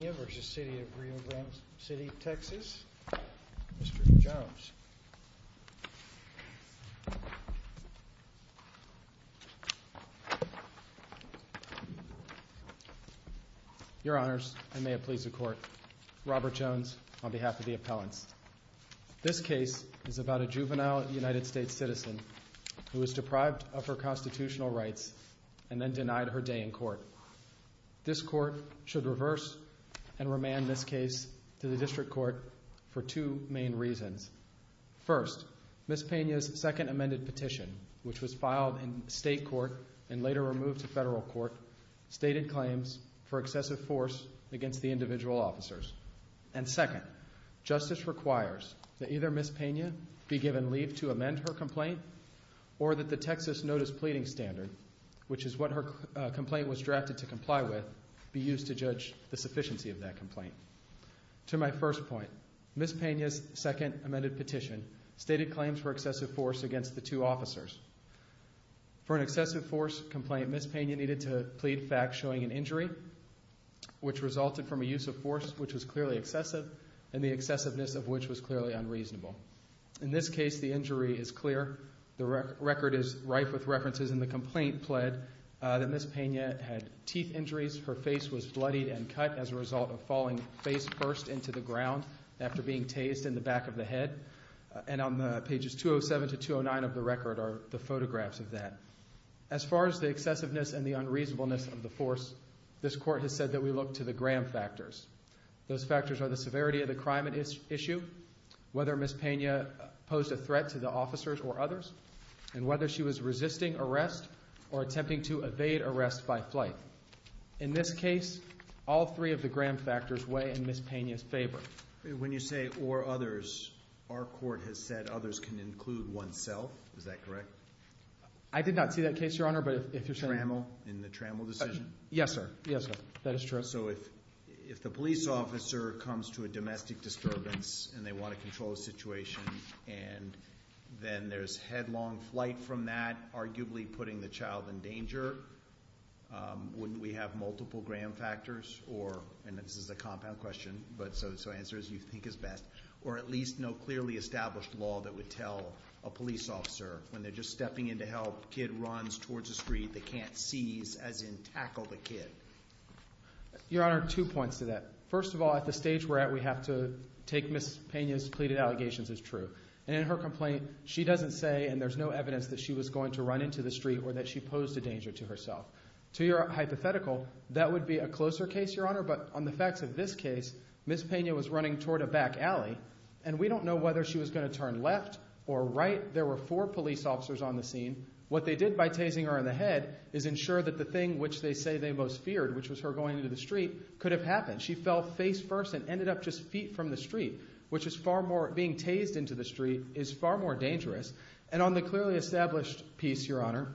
Pena v. City of Rio Grande City, Texas, Mr. Jones. Your Honors, and may it please the Court, Robert Jones on behalf of the appellants. This case is about a juvenile United States citizen who was deprived of her constitutional rights and then denied her day in court. This Court should reverse and remand this case to the District Court for two main reasons. First, Ms. Pena's second amended petition, which was filed in state court and later removed to federal court, stated claims for excessive force against the individual officers. And second, justice requires that either Ms. Pena be given leave to amend her complaint or that the Texas Notice Pleading Standard, which is what her complaint was drafted to comply with, be used to judge the sufficiency of that complaint. To my first point, Ms. Pena's second amended petition stated claims for excessive force against the two officers. For an excessive force complaint, Ms. Pena needed to plead fact showing an injury which resulted from a use of force which was clearly excessive and the excessiveness of which was clearly unreasonable. In this case, the injury is clear. The record is rife with references in the complaint pled that Ms. Pena had teeth injuries. Her face was bloodied and cut as a result of falling face first into the ground after being tased in the back of the head. And on pages 207 to 209 of the record are the photographs of that. As far as the excessiveness and the unreasonableness of the force, this Court has said that we look to the Graham factors. Those factors are the severity of the crime at issue, whether Ms. Pena posed a threat to the officers or others, and whether she was resisting arrest or attempting to evade arrest by flight. In this case, all three of the Graham factors weigh in Ms. Pena's favor. When you say or others, our Court has said others can include oneself. Is that correct? I did not see that case, Your Honor, but if you're saying... Trammel, in the Trammel decision? Yes, sir. Yes, sir. That is true. So, if the police officer comes to a domestic disturbance and they want to control the situation, and then there's headlong flight from that, arguably putting the child in danger, wouldn't we have multiple Graham factors or, and this is a compound question, so answer as you think is best, or at least no clearly established law that would tell a police officer when they're just stepping in to help, kid runs towards the street, they can't seize, as in Your Honor, two points to that. First of all, at the stage we're at, we have to take Ms. Pena's pleaded allegations as true, and in her complaint, she doesn't say, and there's no evidence that she was going to run into the street or that she posed a danger to herself. To your hypothetical, that would be a closer case, Your Honor, but on the facts of this case, Ms. Pena was running toward a back alley, and we don't know whether she was going to turn left or right. There were four police officers on the scene. What they did by tasing her in the head is ensure that the thing which they say they most feared, which was her going into the street, could have happened. She fell face first and ended up just feet from the street, which is far more, being tased into the street, is far more dangerous, and on the clearly established piece, Your Honor,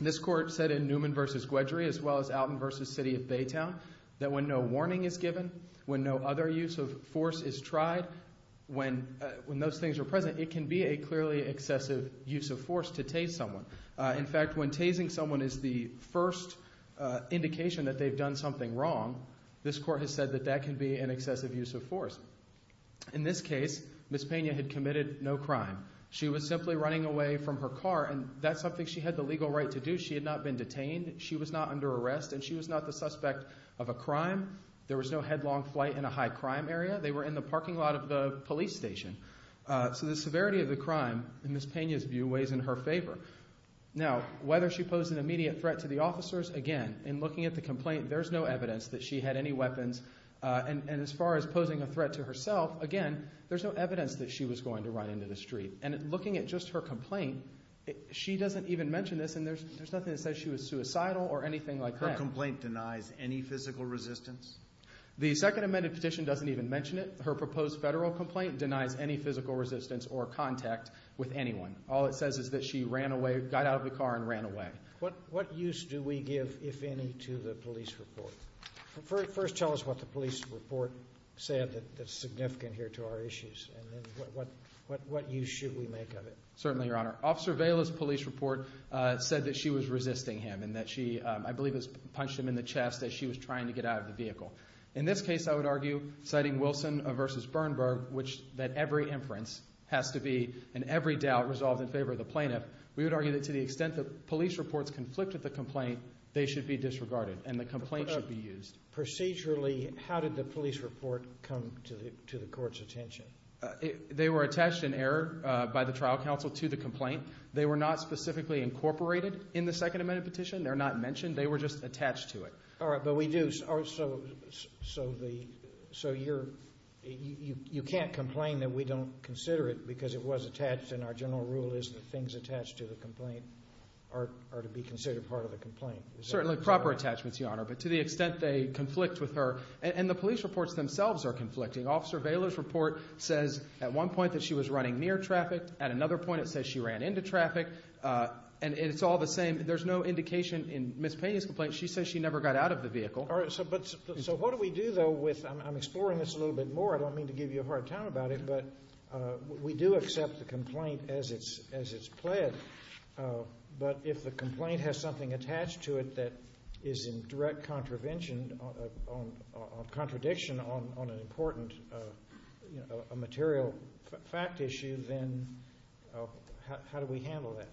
this court said in Newman v. Guedry, as well as Alton v. City of Baytown, that when no warning is given, when no other use of force is tried, when, when those things are present, it can be a clearly excessive use of force to tase someone. In fact, when tasing someone is the first indication that they've done something wrong, this court has said that that can be an excessive use of force. In this case, Ms. Pena had committed no crime. She was simply running away from her car, and that's something she had the legal right to do. She had not been detained. She was not under arrest, and she was not the suspect of a crime. There was no headlong flight in a high-crime area. They were in the parking lot of the police station. So the severity of the crime, in Ms. Pena's view, weighs in her favor. Now, whether she posed an immediate threat to the officers, again, in looking at the complaint, there's no evidence that she had any weapons, and as far as posing a threat to herself, again, there's no evidence that she was going to run into the street. And looking at just her complaint, she doesn't even mention this, and there's nothing that says she was suicidal or anything like that. Her complaint denies any physical resistance? The Second Amended Petition doesn't even mention it. Her proposed federal complaint denies any physical resistance or contact with anyone. All it says is that she ran away, got out of the car, and ran away. What use do we give, if any, to the police report? First tell us what the police report said that's significant here to our issues, and then what use should we make of it? Certainly, Your Honor. Officer Vela's police report said that she was resisting him, and that she, I believe, has punched him in the chest as she was trying to get out of the vehicle. In this case, I would argue, citing Wilson v. Bernberg, that every inference has to be and every doubt resolved in favor of the plaintiff, we would argue that to the extent that police reports conflict with the complaint, they should be disregarded, and the complaint should be used. Procedurally, how did the police report come to the court's attention? They were attached in error by the trial counsel to the complaint. They were not specifically incorporated in the Second Amended Petition. They're not mentioned. They were just attached to it. All right. But we do, so you can't complain that we don't consider it because it was attached, and our general rule is that things attached to the complaint are to be considered part of the complaint. Certainly proper attachments, Your Honor, but to the extent they conflict with her, and the police reports themselves are conflicting. Officer Vela's report says at one point that she was running near traffic, at another point it says she ran into traffic, and it's all the same. There's no indication in Ms. Pena's complaint. She says she never got out of the vehicle. All right. So what do we do, though, with, I'm exploring this a little bit more, I don't mean to give you a hard time about it, but we do accept the complaint as it's pled, but if the complaint has something attached to it that is in direct contradiction on an important material fact issue, then how do we handle that?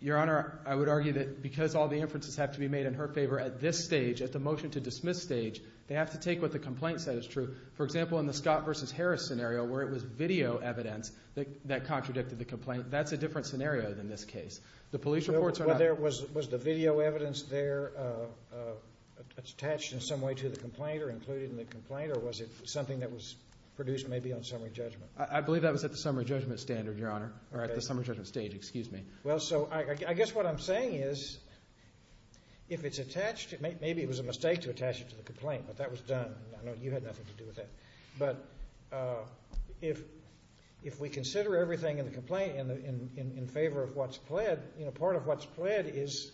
Your Honor, I would argue that because all the inferences have to be made in her favor at this stage, at the motion to dismiss stage, they have to take what the complaint said is true. For example, in the Scott versus Harris scenario where it was video evidence that contradicted the complaint, that's a different scenario than this case. The police reports are not... Well, was the video evidence there attached in some way to the complaint or included in the complaint, or was it something that was produced maybe on summary judgment? I believe that was at the summary judgment standard, Your Honor, or at the summary judgment stage, excuse me. Well, so I guess what I'm saying is if it's attached, maybe it was a mistake to attach it to the complaint, but that was done, and I know you had nothing to do with that, but if we consider everything in the complaint in favor of what's pled, you know, part of what's pled is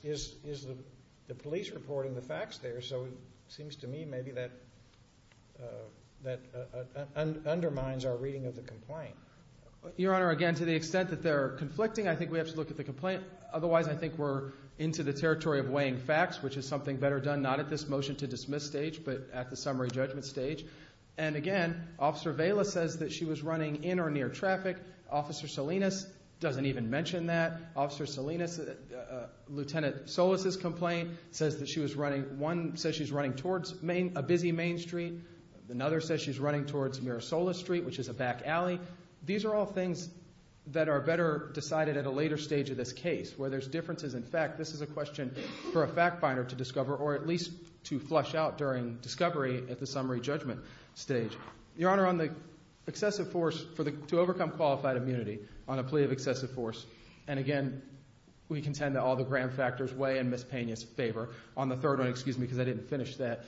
the police reporting the facts there, so it seems to me maybe that undermines our reading of the complaint. Your Honor, again, to the extent that they're conflicting, I think we have to look at the complaint. Otherwise, I think we're into the territory of weighing facts, which is something better done not at this motion to dismiss stage, but at the summary judgment stage. And again, Officer Vela says that she was running in or near traffic. Officer Salinas doesn't even mention that. Officer Salinas, Lieutenant Solis' complaint says that she was running... One says she's running towards a busy main street. Another says she's running towards Mirasola Street, which is a back alley. These are all things that are better decided at a later stage of this case where there's differences in fact. This is a question for a fact finder to discover or at least to flush out during discovery at the summary judgment stage. Your Honor, on the excessive force to overcome qualified immunity on a plea of excessive force, and again, we contend that all the gram factors weigh in Ms. Pena's favor. On the third one, excuse me because I didn't finish that,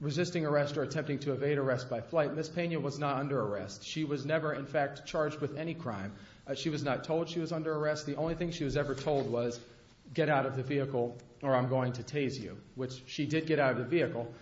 resisting arrest or attempting to evade arrest by flight, Ms. Pena was not under arrest. She was never in fact charged with any crime. She was not told she was under arrest. The only thing she was ever told was, get out of the vehicle or I'm going to tase you, which she did get out of the vehicle.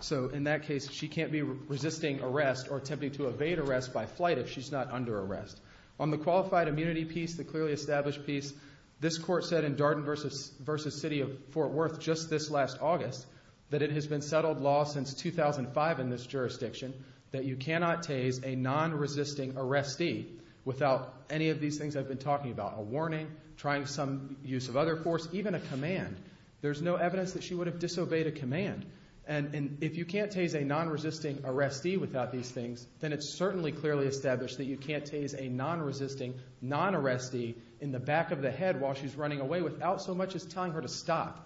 So in that case, she can't be resisting arrest or attempting to evade arrest by flight if she's not under arrest. On the qualified immunity piece, the clearly established piece, this court said in Darden v. City of Fort Worth just this last August, that it has been settled law since 2005 in this jurisdiction that you cannot tase a non-resisting arrestee without any of these things I've been talking about, a warning, trying some use of other force, even a command. There's no evidence that she would have disobeyed a command. And if you can't tase a non-resisting arrestee without these things, then it's certainly clearly established that you can't tase a non-resisting non-arrestee in the back of the head while she's running away without so much as telling her to stop.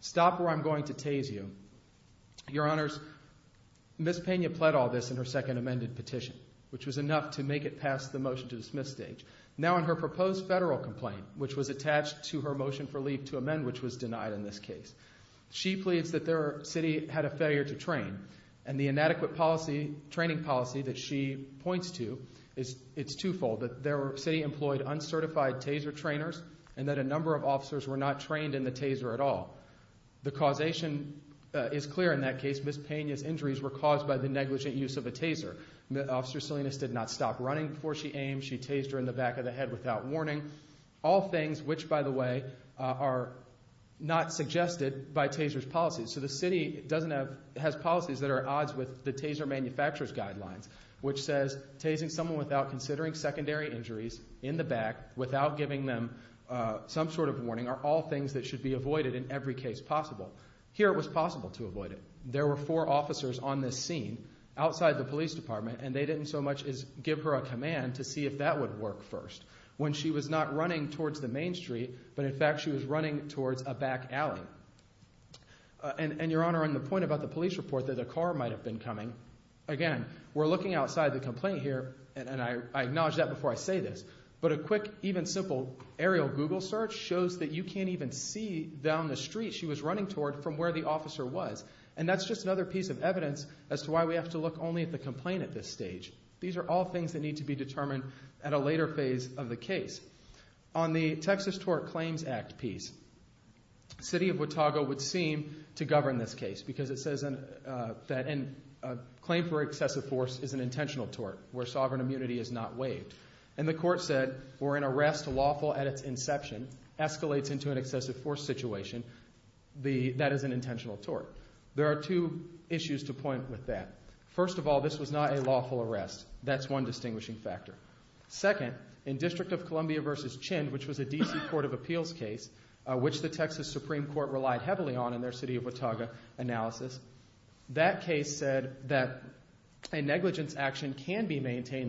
Stop or I'm going to tase you. Your Honors, Ms. Pena pled all this in her second amended petition, which was enough to make it past the motion to dismiss stage. Now in her proposed federal complaint, which was attached to her motion for leave to amend, which was denied in this case, she pleads that their city had a failure to train. And the inadequate policy, training policy that she points to, it's twofold, that their city employed uncertified taser trainers and that a number of officers were not trained in the taser at all. The causation is clear in that case. Ms. Pena's injuries were caused by the negligent use of a taser. Officer Salinas did not stop running before she aimed. She tased her in the back of the head without warning. All things which, by the way, are not suggested by taser's policies. So the city doesn't have, has policies that are at odds with the taser manufacturer's injuries in the back without giving them some sort of warning are all things that should be avoided in every case possible. Here it was possible to avoid it. There were four officers on this scene outside the police department and they didn't so much as give her a command to see if that would work first. When she was not running towards the main street, but in fact she was running towards a back alley. And Your Honor, on the point about the police report that a car might have been coming, again, we're looking outside the complaint here and I acknowledge that before I say this, but a quick, even simple aerial Google search shows that you can't even see down the street she was running toward from where the officer was. And that's just another piece of evidence as to why we have to look only at the complaint at this stage. These are all things that need to be determined at a later phase of the case. On the Texas Tort Claims Act piece, City of Watauga would seem to govern this case because it says that a claim for excessive force is an intentional tort, where sovereign immunity is not waived. And the court said, where an arrest lawful at its inception escalates into an excessive force situation, that is an intentional tort. There are two issues to point with that. First of all, this was not a lawful arrest. That's one distinguishing factor. Second, in District of Columbia v. Chin, which was a DC Court of Appeals case, which the That case said that a negligence action can be maintained in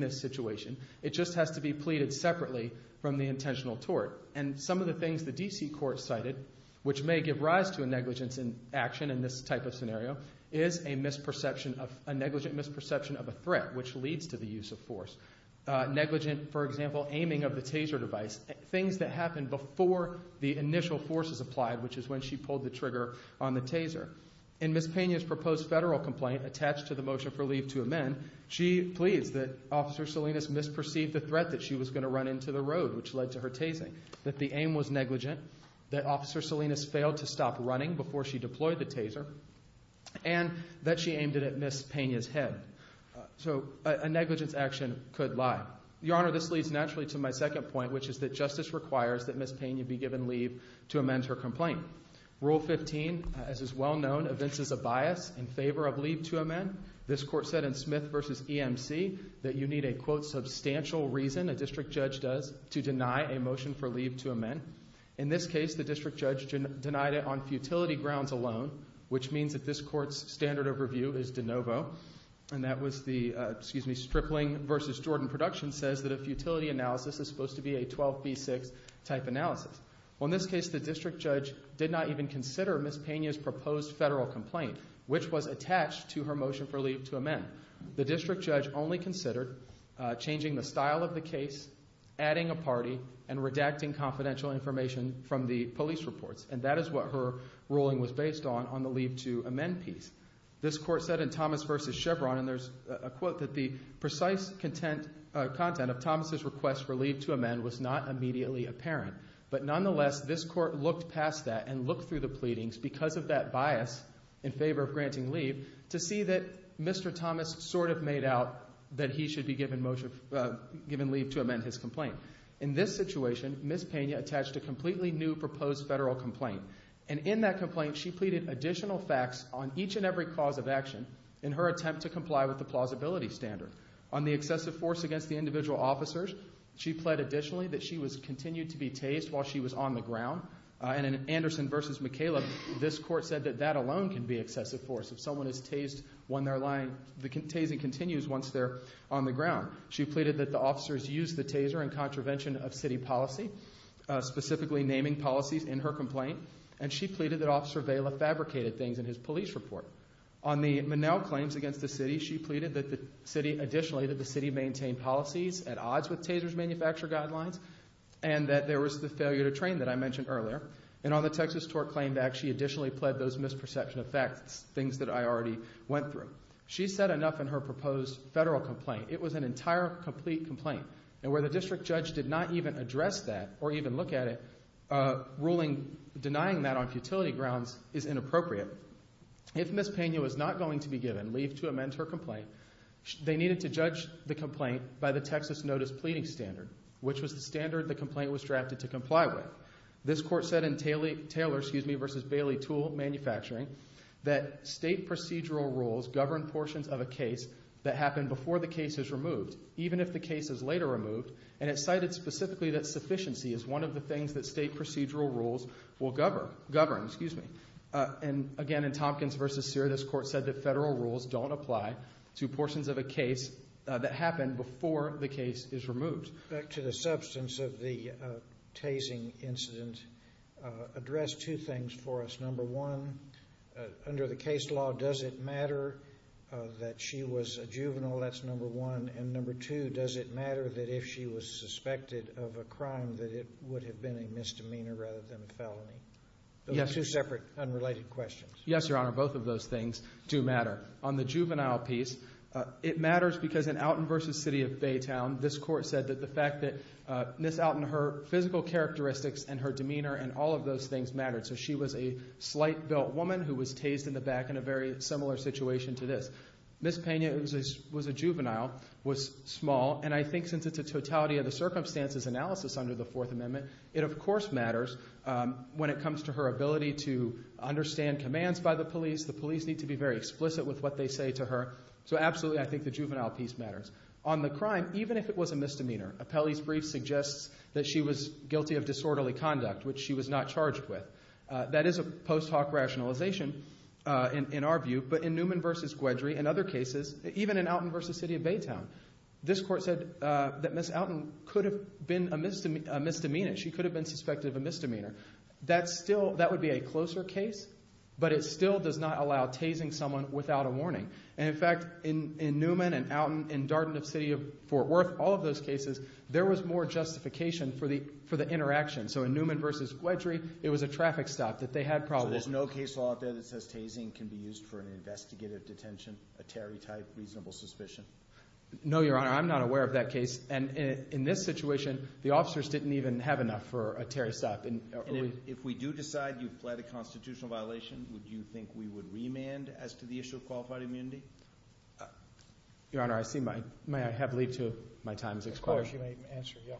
this situation. It just has to be pleaded separately from the intentional tort. And some of the things the DC Court cited, which may give rise to a negligence action in this type of scenario, is a negligent misperception of a threat, which leads to the use of force. Negligent, for example, aiming of the taser device. Things that happen before the initial force is applied, which is when she pulled the trigger on the taser. In Ms. Pena's proposed federal complaint, attached to the motion for leave to amend, she pleads that Officer Salinas misperceived the threat that she was going to run into the road, which led to her tasing. That the aim was negligent, that Officer Salinas failed to stop running before she deployed the taser, and that she aimed it at Ms. Pena's head. So a negligence action could lie. Your Honor, this leads naturally to my second point, which is that justice requires that Ms. Pena be given leave to amend her complaint. Rule 15, as is well known, evinces a bias in favor of leave to amend. This Court said in Smith v. EMC that you need a, quote, substantial reason, a district judge does, to deny a motion for leave to amend. In this case, the district judge denied it on futility grounds alone, which means that this Court's standard overview is de novo. And that was the, excuse me, Stripling v. Jordan Productions says that a futility analysis is supposed to be a 12B6 type analysis. On this case, the district judge did not even consider Ms. Pena's proposed federal complaint, which was attached to her motion for leave to amend. The district judge only considered changing the style of the case, adding a party, and redacting confidential information from the police reports. And that is what her ruling was based on, on the leave to amend piece. This Court said in Thomas v. Chevron, and there's a quote, that the precise content of Thomas' request for leave to amend was not immediately apparent. But nonetheless, this Court looked past that and looked through the pleadings because of that bias in favor of granting leave to see that Mr. Thomas sort of made out that he should be given leave to amend his complaint. In this situation, Ms. Pena attached a completely new proposed federal complaint. And in that complaint, she pleaded additional facts on each and every cause of action in her attempt to comply with the plausibility standard. On the excessive force against the individual officers, she pled additionally that she was continued to be tased while she was on the ground. And in Anderson v. McCaleb, this Court said that that alone can be excessive force. If someone is tased when they're lying, the tasing continues once they're on the ground. She pleaded that the officers use the taser in contravention of city policy, specifically naming policies in her complaint. And she pleaded that Officer Vela fabricated things in his police report. On the Monell claims against the city, she pleaded that the city, additionally, that the city maintained policies at odds with taser's manufacture guidelines and that there was the failure to train that I mentioned earlier. And on the Texas Tort Claim Act, she additionally pled those misperception of facts, things that I already went through. She said enough in her proposed federal complaint. It was an entire, complete complaint. And where the district judge did not even address that or even look at it, ruling, denying that on futility grounds is inappropriate. If Ms. Pena was not going to be given leave to amend her complaint, they needed to judge the complaint by the Texas Notice Pleading Standard, which was the standard the complaint was drafted to comply with. This Court said in Taylor v. Bailey Tool Manufacturing that state procedural rules govern portions of a case that happen before the case is removed, even if the case is later removed. And it cited specifically that sufficiency is one of the things that state procedural rules will govern. And again, in Tompkins v. Sear, this Court said that federal rules don't apply to portions of a case that happen before the case is removed. Back to the substance of the tasing incident, address two things for us. Number one, under the case law, does it matter that she was a juvenile? That's number one. And number two, does it matter that if she was suspected of a crime that it would have been a misdemeanor rather than a felony? Those are two separate, unrelated questions. Yes, Your Honor, both of those things do matter. On the juvenile piece, it matters because in Outen v. City of Baytown, this Court said that the fact that Ms. Outen, her physical characteristics and her demeanor and all of those things mattered. So she was a slight-built woman who was tased in the back in a very similar situation to this. Ms. Pena was a juvenile, was small, and I think since it's a totality of the circumstances analysis under the Fourth Amendment, it of course matters when it comes to her ability to understand commands by the police. The police need to be very explicit with what they say to her. So absolutely, I think the juvenile piece matters. On the crime, even if it was a misdemeanor, Apelli's brief suggests that she was guilty of disorderly conduct, which she was not charged with. That is a post hoc rationalization in our view. But in Newman v. Guedry and other cases, even in Outen v. City of Baytown, this Court said that Ms. Outen could have been a misdemeanor. She could have been suspected of a misdemeanor. That still, that would be a closer case, but it still does not allow tasing someone without a warning. And in fact, in Newman and Outen, in Darden of City of Fort Worth, all of those cases, there was more justification for the interaction. So in Newman v. Guedry, it was a traffic stop that they had probably. So there's no case law out there that says tasing can be used for an investigative detention, a Terry-type reasonable suspicion? No, Your Honor. I'm not aware of that case. And in this situation, the officers didn't even have enough for a Terry stop. If we do decide you've pled a constitutional violation, would you think we would remand as to the issue of qualified immunity? Your Honor, I see my, may I have leave to my time is expiring? Of course, you may answer, yeah.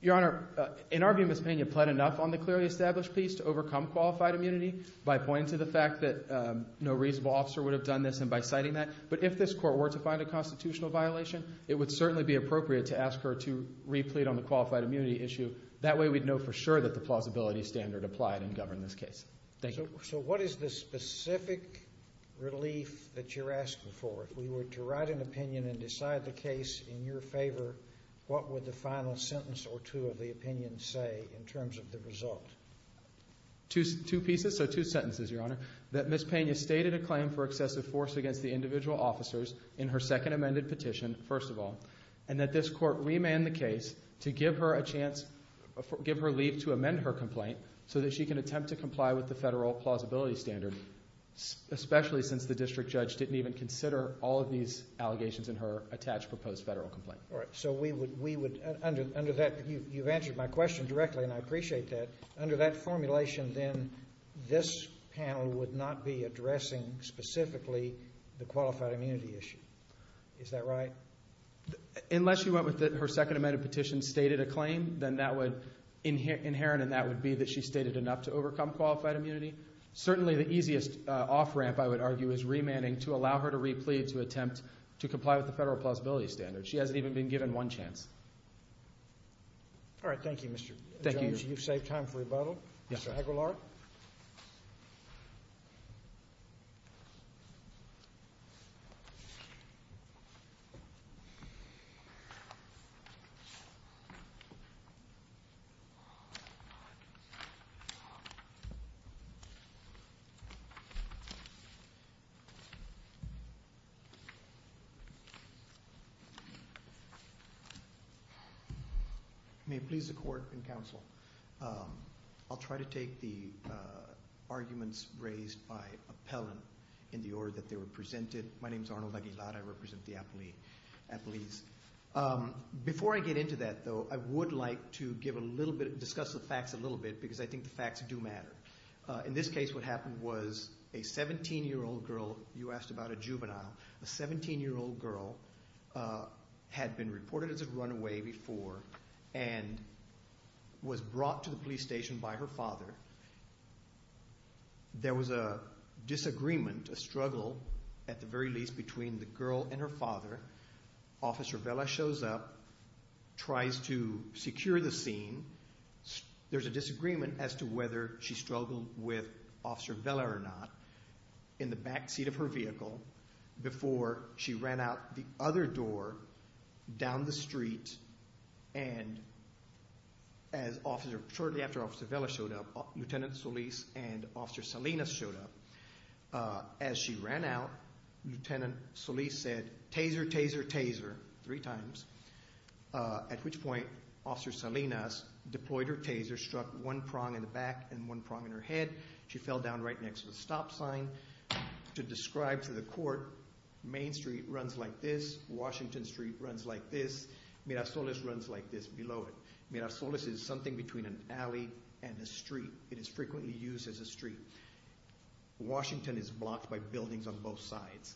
Your Honor, in our view, Ms. Pena pled enough on the clearly established piece to overcome qualified immunity by pointing to the fact that no reasonable officer would have done this and by citing that. But if this court were to find a constitutional violation, it would certainly be appropriate to ask her to replete on the qualified immunity issue. That way we'd know for sure that the plausibility standard applied and governed this case. Thank you. So what is the specific relief that you're asking for? If we were to write an opinion and decide the case in your favor, what would the final sentence or two of the opinion say in terms of the result? Two pieces, so two sentences, Your Honor. That Ms. Pena stated a claim for excessive force against the individual officers in her second amended petition, first of all. And that this court remanded the case to give her a chance, give her leave to amend her complaint so that she can attempt to comply with the federal plausibility standard, especially since the district judge didn't even consider all of these allegations in her attached proposed federal complaint. All right. So we would, under that, you've answered my question directly and I appreciate that. Under that formulation then, this panel would not be addressing specifically the qualified immunity issue. Is that right? Unless you went with her second amended petition stated a claim, then that would, inherent in that would be that she stated enough to overcome qualified immunity. Certainly the easiest off ramp, I would argue, is remanding to allow her to replete to attempt to comply with the federal plausibility standard. She hasn't even been given one chance. All right. Thank you, Mr. Jones. Thank you. Thank you. I appreciate you've saved time for rebuttal. Mr. Aguilar. May it please the court and counsel. I'll try to take the arguments raised by appellant in the order that they were presented. My name's Arnold Aguilar. I represent the Apalis. Before I get into that, though, I would like to discuss the facts a little bit because I think the facts do matter. In this case, what happened was a 17-year-old girl, you asked about a juvenile, a 17-year-old girl, had been reported as a runaway before and was brought to the police station by her father. There was a disagreement, a struggle, at the very least, between the girl and her father. Officer Vela shows up, tries to secure the scene. There's a disagreement as to whether she struggled with Officer Vela or not in the back seat of her vehicle before she ran out the other door down the street and as officer, shortly after Officer Vela showed up, Lieutenant Solis and Officer Salinas showed up. As she ran out, Lieutenant Solis said, taser, taser, taser, three times, at which point Officer Salinas deployed her taser, struck one prong in the back and one prong in her head. She fell down right next to a stop sign. To describe to the court, Main Street runs like this, Washington Street runs like this, Mira Solis runs like this below it. Mira Solis is something between an alley and a street. It is frequently used as a street. Washington is blocked by buildings on both sides.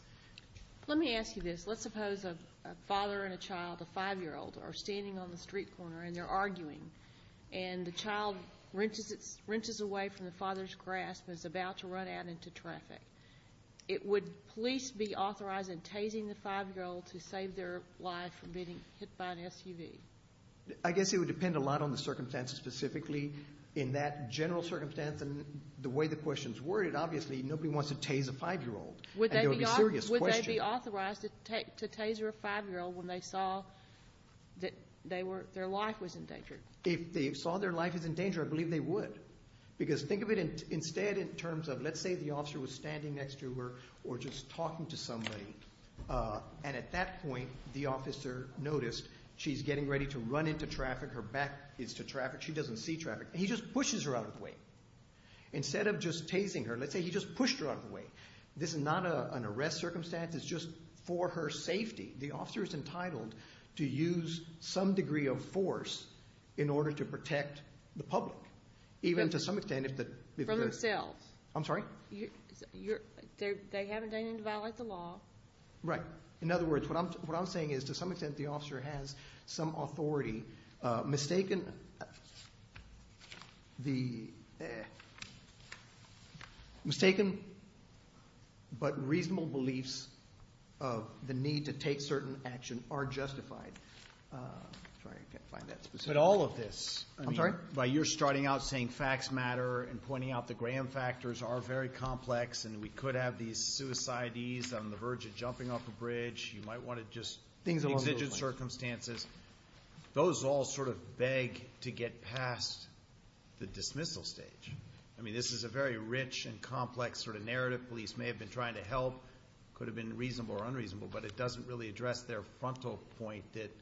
Let me ask you this. Let's suppose a father and a child, a five-year-old, are standing on the street corner and they're to run out into traffic. It would police be authorized in tasing the five-year-old to save their life from being hit by an SUV? I guess it would depend a lot on the circumstances specifically. In that general circumstance and the way the question is worded, obviously nobody wants to tase a five-year-old. It would be a serious question. Would they be authorized to taser a five-year-old when they saw that their life was in danger? If they saw their life was in danger, I believe they would. Because think of it instead in terms of, let's say the officer was standing next to her or just talking to somebody, and at that point the officer noticed she's getting ready to run into traffic, her back is to traffic, she doesn't see traffic, and he just pushes her out of the way. Instead of just tasing her, let's say he just pushed her out of the way. This is not an arrest circumstance, it's just for her safety. The officer is entitled to use some degree of force in order to protect the public, even to some extent. From themselves. I'm sorry? They haven't done anything to violate the law. Right. In other words, what I'm saying is to some extent the officer has some authority, mistaken but reasonable beliefs of the need to take certain action are justified. I'm sorry, I can't find that specific. But all of this. I'm sorry? By you're starting out saying facts matter and pointing out the Graham factors are very complex and we could have these suicides on the verge of jumping off a bridge, you might want to just exige circumstances. Those all sort of beg to get past the dismissal stage. I mean, this is a very rich and complex sort of narrative. Police may have been trying to help, could have been reasonable or unreasonable, but it doesn't really address their frontal point that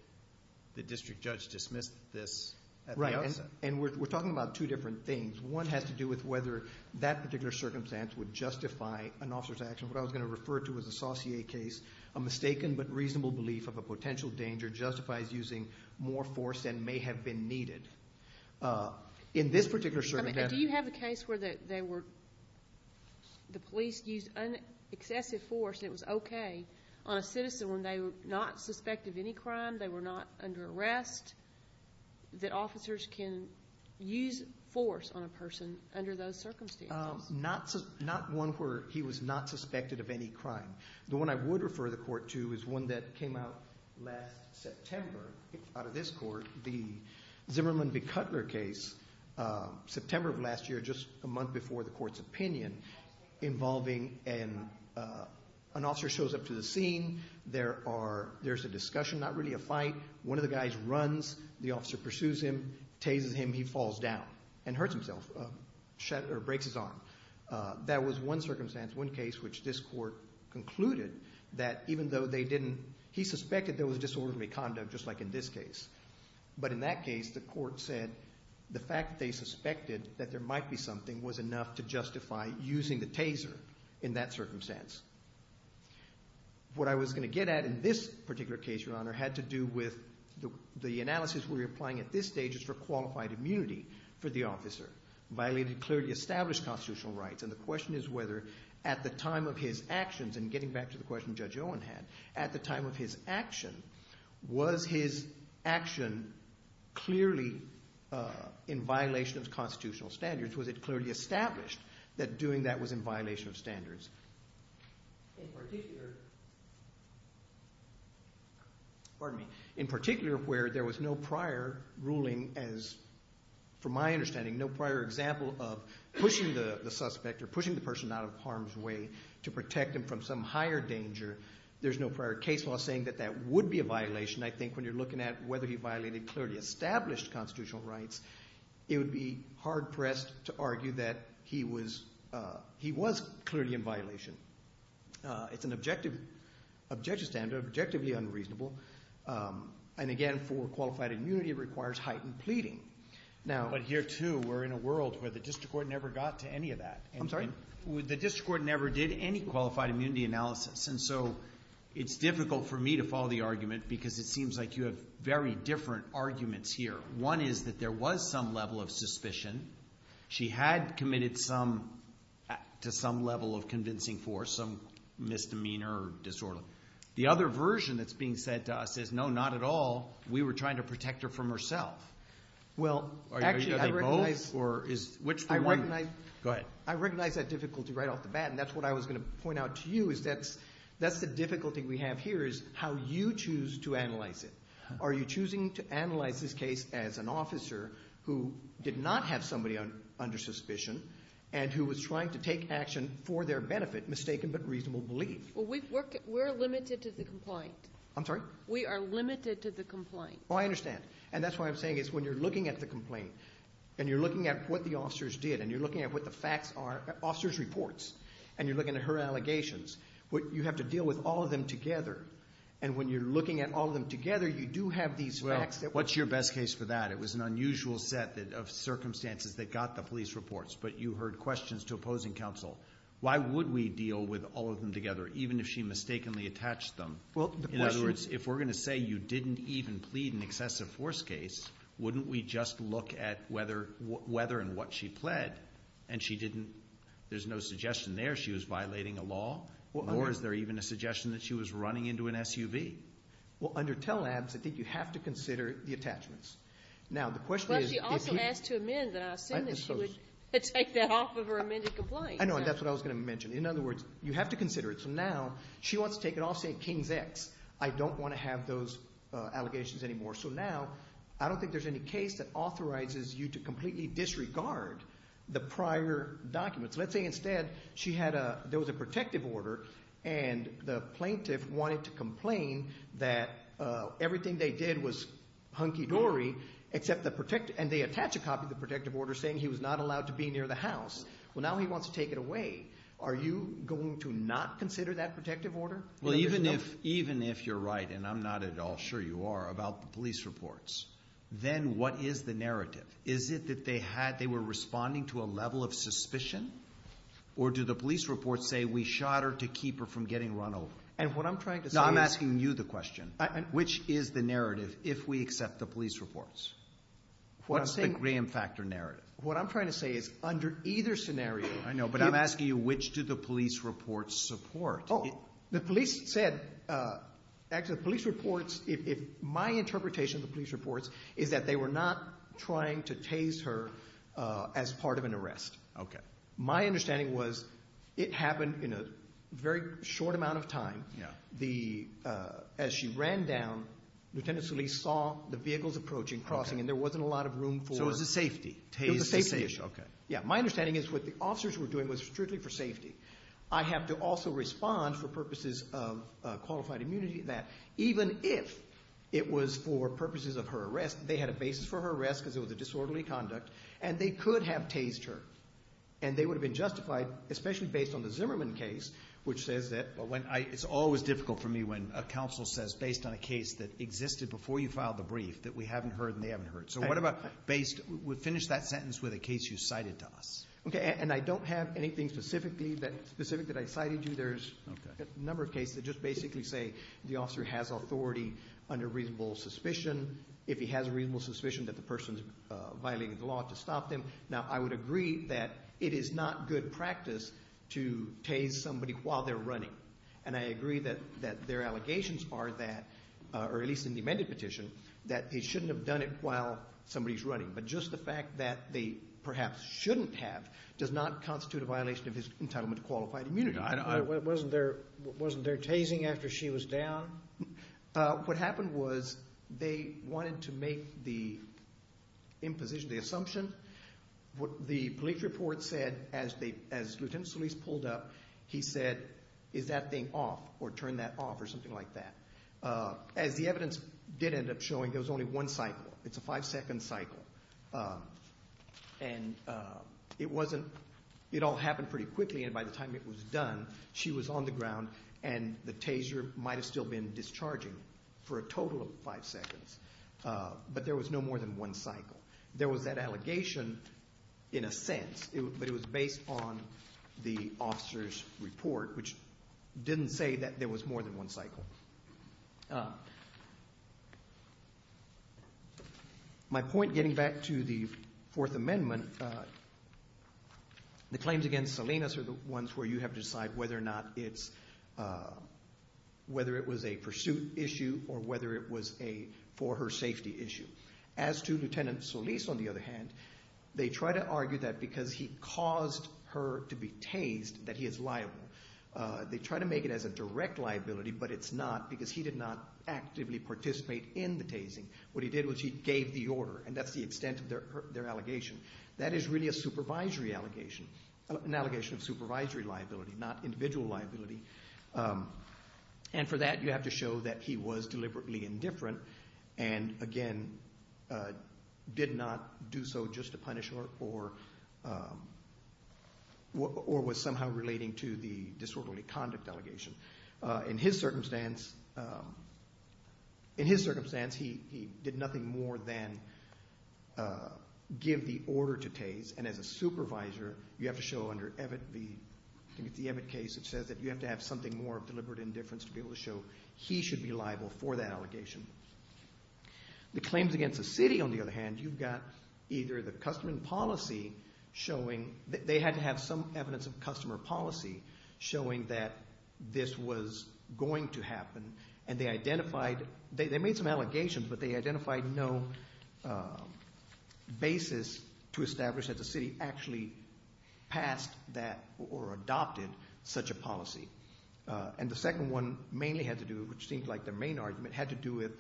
the district judge dismissed this at the outset. Right. And we're talking about two different things. One has to do with whether that particular circumstance would justify an officer's action. What I was going to refer to as a Saucier case, a mistaken but reasonable belief of a potential danger justifies using more force than may have been needed. In this particular circumstance... Do you have a case where the police used excessive force and it was okay on a citizen when they were not suspected of any crime, they were not under arrest, that officers can use force on a person under those circumstances? Not one where he was not suspected of any crime. The one I would refer the court to is one that came out last September, out of this court, the Zimmerman v. Cutler case, September of last year, just a month before the court's opinion, involving an officer shows up to the scene. There's a discussion, not really a fight. One of the guys runs. The officer pursues him, tases him. He falls down and hurts himself, breaks his arm. That was one circumstance, one case, which this court concluded that even though they didn't... He suspected there was disorderly conduct, just like in this case. But in that case, the court said the fact that they suspected that there might be something was enough to justify using the taser in that circumstance. What I was going to get at in this particular case, Your Honor, had to do with the analysis we were applying at this stage as for qualified immunity for the officer. Violated clearly established constitutional rights, and the question is whether at the time of his actions, and getting back to the question Judge Owen had, at the time of his action, was his action clearly in violation of constitutional standards? Was it clearly established that doing that was in violation of standards? In particular... Pardon me. In particular where there was no prior ruling as... From my understanding, no prior example of pushing the suspect or pushing the person out of harm's way to protect him from some higher danger. There's no prior case law saying that that would be a violation. I think when you're looking at whether he violated clearly established constitutional rights, it would be hard-pressed to argue that he was clearly in violation. It's an objective standard, objectively unreasonable. And again, for qualified immunity, it requires heightened pleading. But here, too, we're in a world where the district court never got to any of that. I'm sorry? The district court never did any qualified immunity analysis, and so it's difficult for me to follow the argument because it seems like you have very different arguments here. One is that there was some level of suspicion. She had committed to some level of convincing force, some misdemeanor disorder. The other version that's being said to us is, no, not at all. We were trying to protect her from herself. Well, actually, I recognize... Are they both? Go ahead. I recognize that difficulty right off the bat, and that's what I was going to point out to you is that's the difficulty we have here is how you choose to analyze it. Are you choosing to analyze this case as an officer who did not have somebody under suspicion and who was trying to take action for their benefit, mistaken but reasonable belief? Well, we're limited to the complaint. I'm sorry? We are limited to the complaint. Well, I understand, and that's why I'm saying is when you're looking at the complaint and you're looking at what the officers did and you're looking at what the facts are, officers' reports, and you're looking at her allegations, you have to deal with all of them together. And when you're looking at all of them together, you do have these facts that... Well, what's your best case for that? It was an unusual set of circumstances that got the police reports, but you heard questions to opposing counsel. Why would we deal with all of them together, even if she mistakenly attached them? Well, the question... In other words, if we're going to say you didn't even plead an excessive force case, wouldn't we just look at whether and what she pled, and she didn't... There's no suggestion there she was violating a law, or is there even a suggestion that she was running into an SUV? Well, under TELL Labs, I think you have to consider the attachments. Now, the question is... Well, she also asked to amend, and I assume that she would take that off of her amended complaint. I know, and that's what I was going to mention. In other words, you have to consider it. So now, she wants to take it off, say, Kings X. I don't want to have those allegations anymore. So now, I don't think there's any case that authorizes you to completely disregard the prior documents. Let's say, instead, there was a protective order, and the plaintiff wanted to complain that everything they did was hunky-dory, and they attach a copy of the protective order saying he was not allowed to be near the house. Well, now he wants to take it away. Are you going to not consider that protective order? Well, even if you're right, and I'm not at all sure you are, about the police reports, then what is the narrative? Is it that they were responding to a level of suspicion, or do the police reports say, we shot her to keep her from getting run over? And what I'm trying to say is – No, I'm asking you the question. Which is the narrative if we accept the police reports? What's the Graham Factor narrative? What I'm trying to say is, under either scenario – I know, but I'm asking you, which do the police reports support? as part of an arrest. My understanding was it happened in a very short amount of time. As she ran down, Lieutenant Solis saw the vehicles approaching, crossing, and there wasn't a lot of room for – So it was a safety? It was a safety issue. My understanding is what the officers were doing was strictly for safety. I have to also respond for purposes of qualified immunity that even if it was for purposes of her arrest, they had a basis for her arrest because it was a disorderly conduct, and they could have tased her. And they would have been justified, especially based on the Zimmerman case, which says that – It's always difficult for me when a counsel says, based on a case that existed before you filed the brief, that we haven't heard and they haven't heard. So what about based – finish that sentence with a case you cited to us. And I don't have anything specific that I cited to you. There's a number of cases that just basically say the officer has authority under reasonable suspicion. If he has a reasonable suspicion that the person's violating the law to stop them. Now, I would agree that it is not good practice to tase somebody while they're running. And I agree that their allegations are that – or at least in the amended petition, that they shouldn't have done it while somebody's running. But just the fact that they perhaps shouldn't have does not constitute a violation of his entitlement to qualified immunity. Wasn't there tasing after she was down? What happened was they wanted to make the imposition, the assumption. What the police report said as the lieutenant's police pulled up, he said, is that thing off or turn that off or something like that. As the evidence did end up showing, there was only one cycle. It's a five-second cycle. And it wasn't – it all happened pretty quickly. And by the time it was done, she was on the ground and the taser might have still been discharging for a total of five seconds. But there was no more than one cycle. There was that allegation in a sense, but it was based on the officer's report, which didn't say that there was more than one cycle. My point getting back to the Fourth Amendment, the claims against Salinas are the ones where you have to decide whether or not it's – whether it was a pursuit issue or whether it was a for-her-safety issue. As to Lieutenant Solis, on the other hand, they try to argue that because he caused her to be tased, that he is liable. They try to make it as a direct liability, but it's not because he did not actively participate in the tasing. What he did was he gave the order, and that's the extent of their allegation. That is really a supervisory allegation, an allegation of supervisory liability, not individual liability. And for that, you have to show that he was deliberately indifferent and, again, did not do so just to punish her or was somehow relating to the disorderly conduct allegation. In his circumstance, he did nothing more than give the order to tase, and as a supervisor, you have to show under the Evatt case, it says that you have to have something more of deliberate indifference to be able to show he should be liable for that allegation. The claims against the city, on the other hand, you've got either the customer policy showing that they had to have some evidence of customer policy showing that this was going to happen, and they identified they made some allegations, but they identified no basis to establish that the city actually passed that or adopted such a policy. And the second one mainly had to do, which seemed like the main argument, had to do with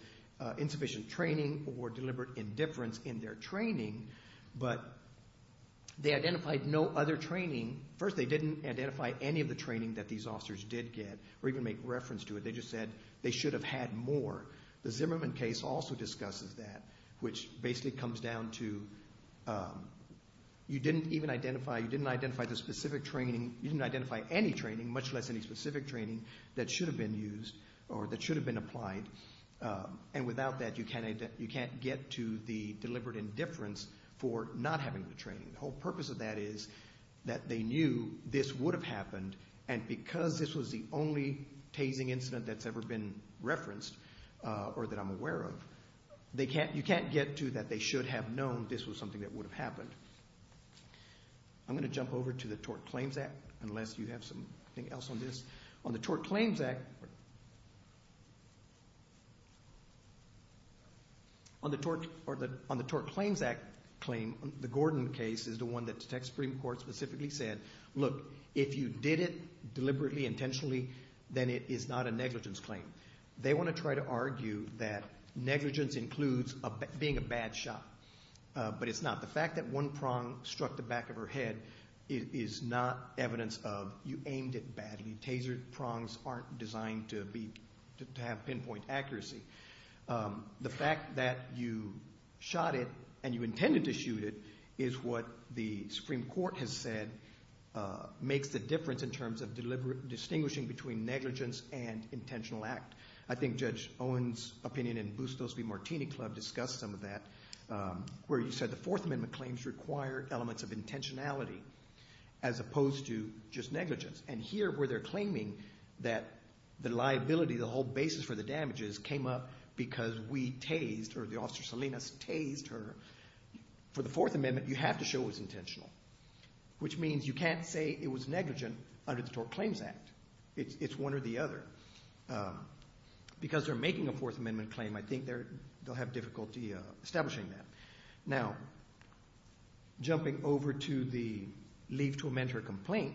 insufficient training or deliberate indifference in their training, but they identified no other training. First, they didn't identify any of the training that these officers did get or even make reference to it. They just said they should have had more. The Zimmerman case also discusses that, which basically comes down to you didn't even identify, you didn't identify the specific training, you didn't identify any training, much less any specific training, that should have been used or that should have been applied. And without that, you can't get to the deliberate indifference for not having the training. The whole purpose of that is that they knew this would have happened, and because this was the only tasing incident that's ever been referenced or that I'm aware of, you can't get to that they should have known this was something that would have happened. I'm going to jump over to the Tort Claims Act, unless you have something else on this. On the Tort Claims Act, the Gordon case is the one that the Supreme Court specifically said, look, if you did it deliberately, intentionally, then it is not a negligence claim. They want to try to argue that negligence includes being a bad shot, but it's not. The fact that one prong struck the back of her head is not evidence of you aimed it badly. Taser prongs aren't designed to have pinpoint accuracy. The fact that you shot it and you intended to shoot it is what the Supreme Court has said makes the difference in terms of distinguishing between negligence and intentional act. I think Judge Owen's opinion in Bustos v. Martini Club discussed some of that, where he said the Fourth Amendment claims require elements of intentionality as opposed to just negligence. Here, where they're claiming that the liability, the whole basis for the damages came up because we tased, or the Officer Salinas tased her. For the Fourth Amendment, you have to show it was intentional, which means you can't say it was negligent under the Tort Claims Act. It's one or the other. Because they're making a Fourth Amendment claim, I think they'll have difficulty establishing that. Now, jumping over to the leave to amend her complaint,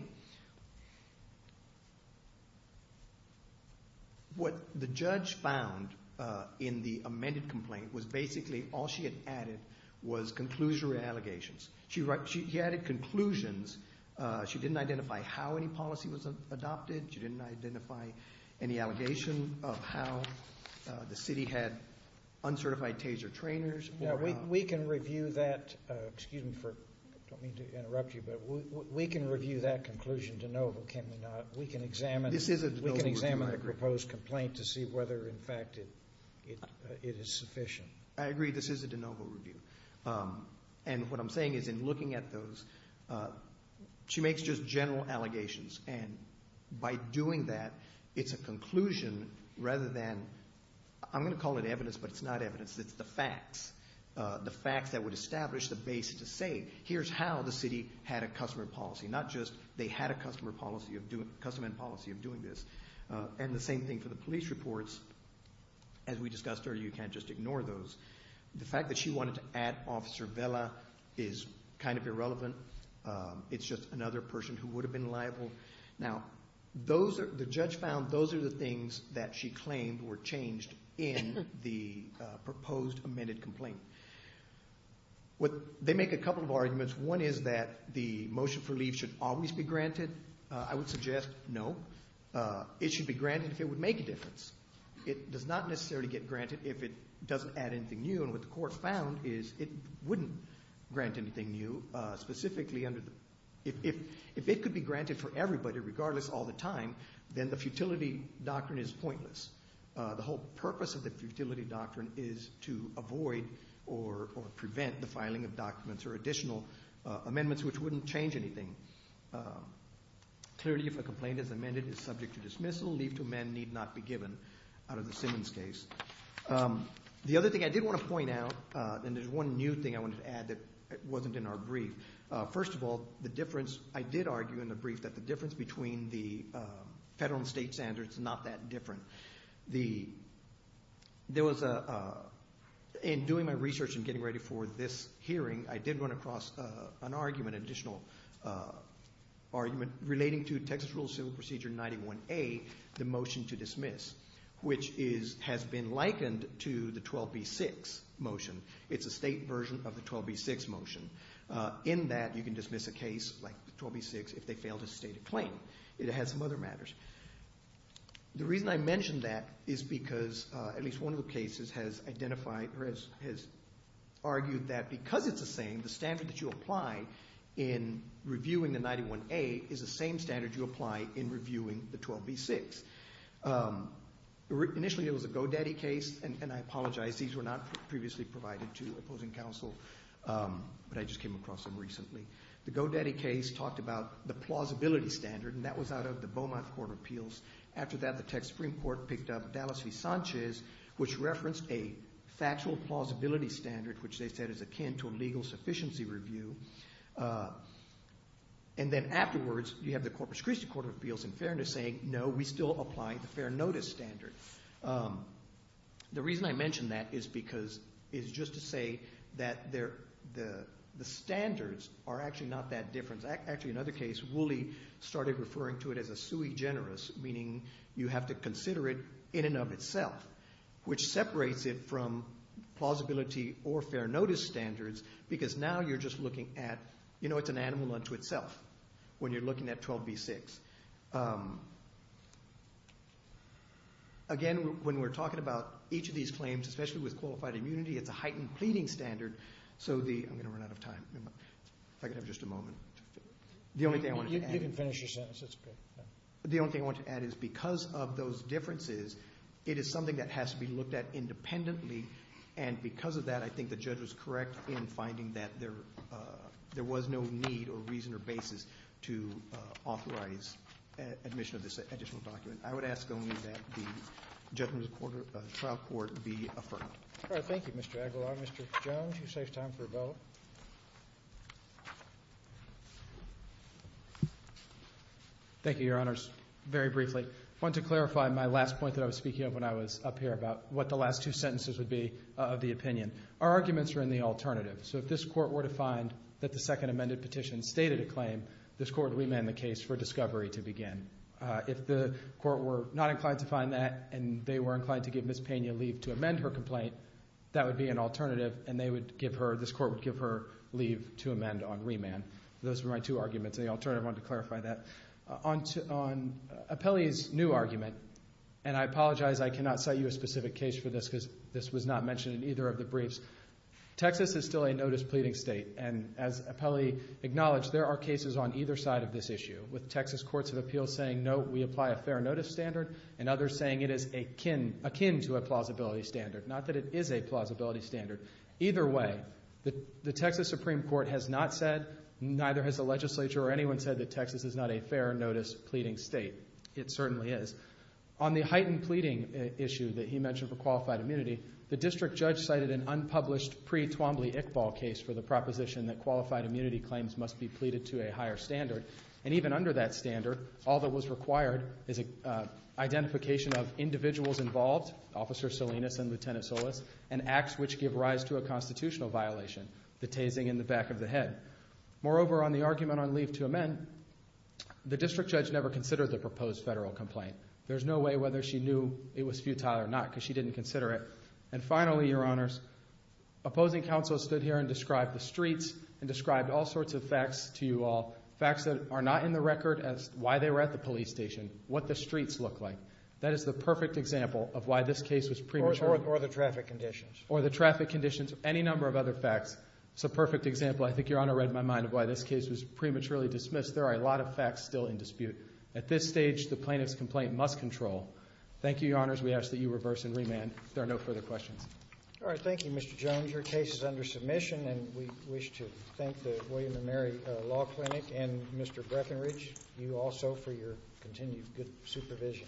what the judge found in the amended complaint was basically all she had added was conclusionary allegations. She added conclusions. She didn't identify how any policy was adopted. She didn't identify any allegation of how the city had uncertified taser trainers. We can review that. Excuse me for, I don't mean to interrupt you, but we can review that conclusion de novo, can we not? We can examine the proposed complaint to see whether, in fact, it is sufficient. I agree. This is a de novo review. And what I'm saying is in looking at those, she makes just general allegations. And by doing that, it's a conclusion rather than, I'm going to call it evidence, but it's not evidence. It's the facts, the facts that would establish the basis to say, here's how the city had a customer policy, not just they had a custom and policy of doing this. And the same thing for the police reports. As we discussed earlier, you can't just ignore those. The fact that she wanted to add Officer Vela is kind of irrelevant. It's just another person who would have been liable. Now, the judge found those are the things that she claimed were changed in the proposed amended complaint. They make a couple of arguments. One is that the motion for leave should always be granted. I would suggest no. It should be granted if it would make a difference. It does not necessarily get granted if it doesn't add anything new. And what the court found is it wouldn't grant anything new. Specifically, if it could be granted for everybody regardless all the time, then the futility doctrine is pointless. The whole purpose of the futility doctrine is to avoid or prevent the filing of documents or additional amendments, which wouldn't change anything. Clearly, if a complaint as amended is subject to dismissal, leave to amend need not be given out of the Simmons case. The other thing I did want to point out, and there's one new thing I wanted to add that wasn't in our brief. First of all, the difference, I did argue in the brief that the difference between the federal and state standards is not that different. In doing my research and getting ready for this hearing, I did run across an additional argument relating to Texas Rules Civil Procedure 91A, the motion to dismiss, which has been likened to the 12B6 motion. It's a state version of the 12B6 motion. In that, you can dismiss a case like the 12B6 if they fail to state a claim. It has some other matters. The reason I mention that is because at least one of the cases has argued that because it's the same, the standard that you apply in reviewing the 91A is the same standard you apply in reviewing the 12B6. Initially, it was a go-daddy case, and I apologize. These were not previously provided to opposing counsel, but I just came across them recently. The go-daddy case talked about the plausibility standard, and that was out of the Beaumont Court of Appeals. After that, the Texas Supreme Court picked up Dallas v. Sanchez, which referenced a factual plausibility standard, which they said is akin to a legal sufficiency review. Then afterwards, you have the Corpus Christi Court of Appeals in fairness saying, no, we still apply the fair notice standard. The reason I mention that is just to say that the standards are actually not that different. Actually, in another case, Woolley started referring to it as a sui generis, meaning you have to consider it in and of itself, which separates it from plausibility or fair notice standards because now you're just looking at it's an animal unto itself when you're looking at 12B6. Again, when we're talking about each of these claims, especially with qualified immunity, it's a heightened pleading standard. I'm going to run out of time. If I could have just a moment. You can finish your sentence. The only thing I want to add is because of those differences, it is something that has to be looked at independently, and because of that, I think the judge was correct in finding that there was no need or reason or basis to authorize admission of this additional document. I would ask only that the judgment of the trial court be affirmed. Thank you, Mr. Aguilar. Mr. Jones, you saved time for a vote. Thank you, Your Honors. Very briefly, I want to clarify my last point that I was speaking of when I was up here about what the last two sentences would be of the opinion. Our arguments are in the alternative. If this court were to find that the second amended petition stated a claim, this court would remand the case for discovery to begin. If the court were not inclined to find that and they were inclined to give Ms. Pena leave to amend her complaint, that would be an alternative, and this court would give her leave to amend on remand. Those were my two arguments, and the alternative, I wanted to clarify that. On Apelli's new argument, and I apologize, I cannot cite you a specific case for this because this was not mentioned in either of the briefs. Texas is still a notice-pleading state, and as Apelli acknowledged, there are cases on either side of this issue with Texas courts of appeals saying, no, we apply a fair notice standard and others saying it is akin to a plausibility standard, not that it is a plausibility standard. Either way, the Texas Supreme Court has not said, neither has the legislature or anyone said that Texas is not a fair notice-pleading state. It certainly is. On the heightened pleading issue that he mentioned for qualified immunity, the district judge cited an unpublished pre-Twombly-Iqbal case for the proposition that qualified immunity claims must be pleaded to a higher standard, and even under that standard, all that was required is identification of individuals involved, Officer Salinas and Lieutenant Solis, and acts which give rise to a constitutional violation, the tasing in the back of the head. Moreover, on the argument on leave to amend, the district judge never considered the proposed federal complaint. There's no way whether she knew it was futile or not because she didn't consider it. And finally, Your Honors, opposing counsel stood here and described the streets and described all sorts of facts to you all, facts that are not in the record as to why they were at the police station, what the streets look like. That is the perfect example of why this case was premature. Or the traffic conditions. Or the traffic conditions, any number of other facts. It's a perfect example, I think Your Honor read my mind, of why this case was prematurely dismissed. There are a lot of facts still in dispute. At this stage, the plaintiff's complaint must control. Thank you, Your Honors. We ask that you reverse and remand if there are no further questions. All right. Thank you, Mr. Jones. Your case is under submission, and we wish to thank the William & Mary Law Clinic and Mr. Breckenridge, you also, for your continued good supervision. Thank you, Your Honor.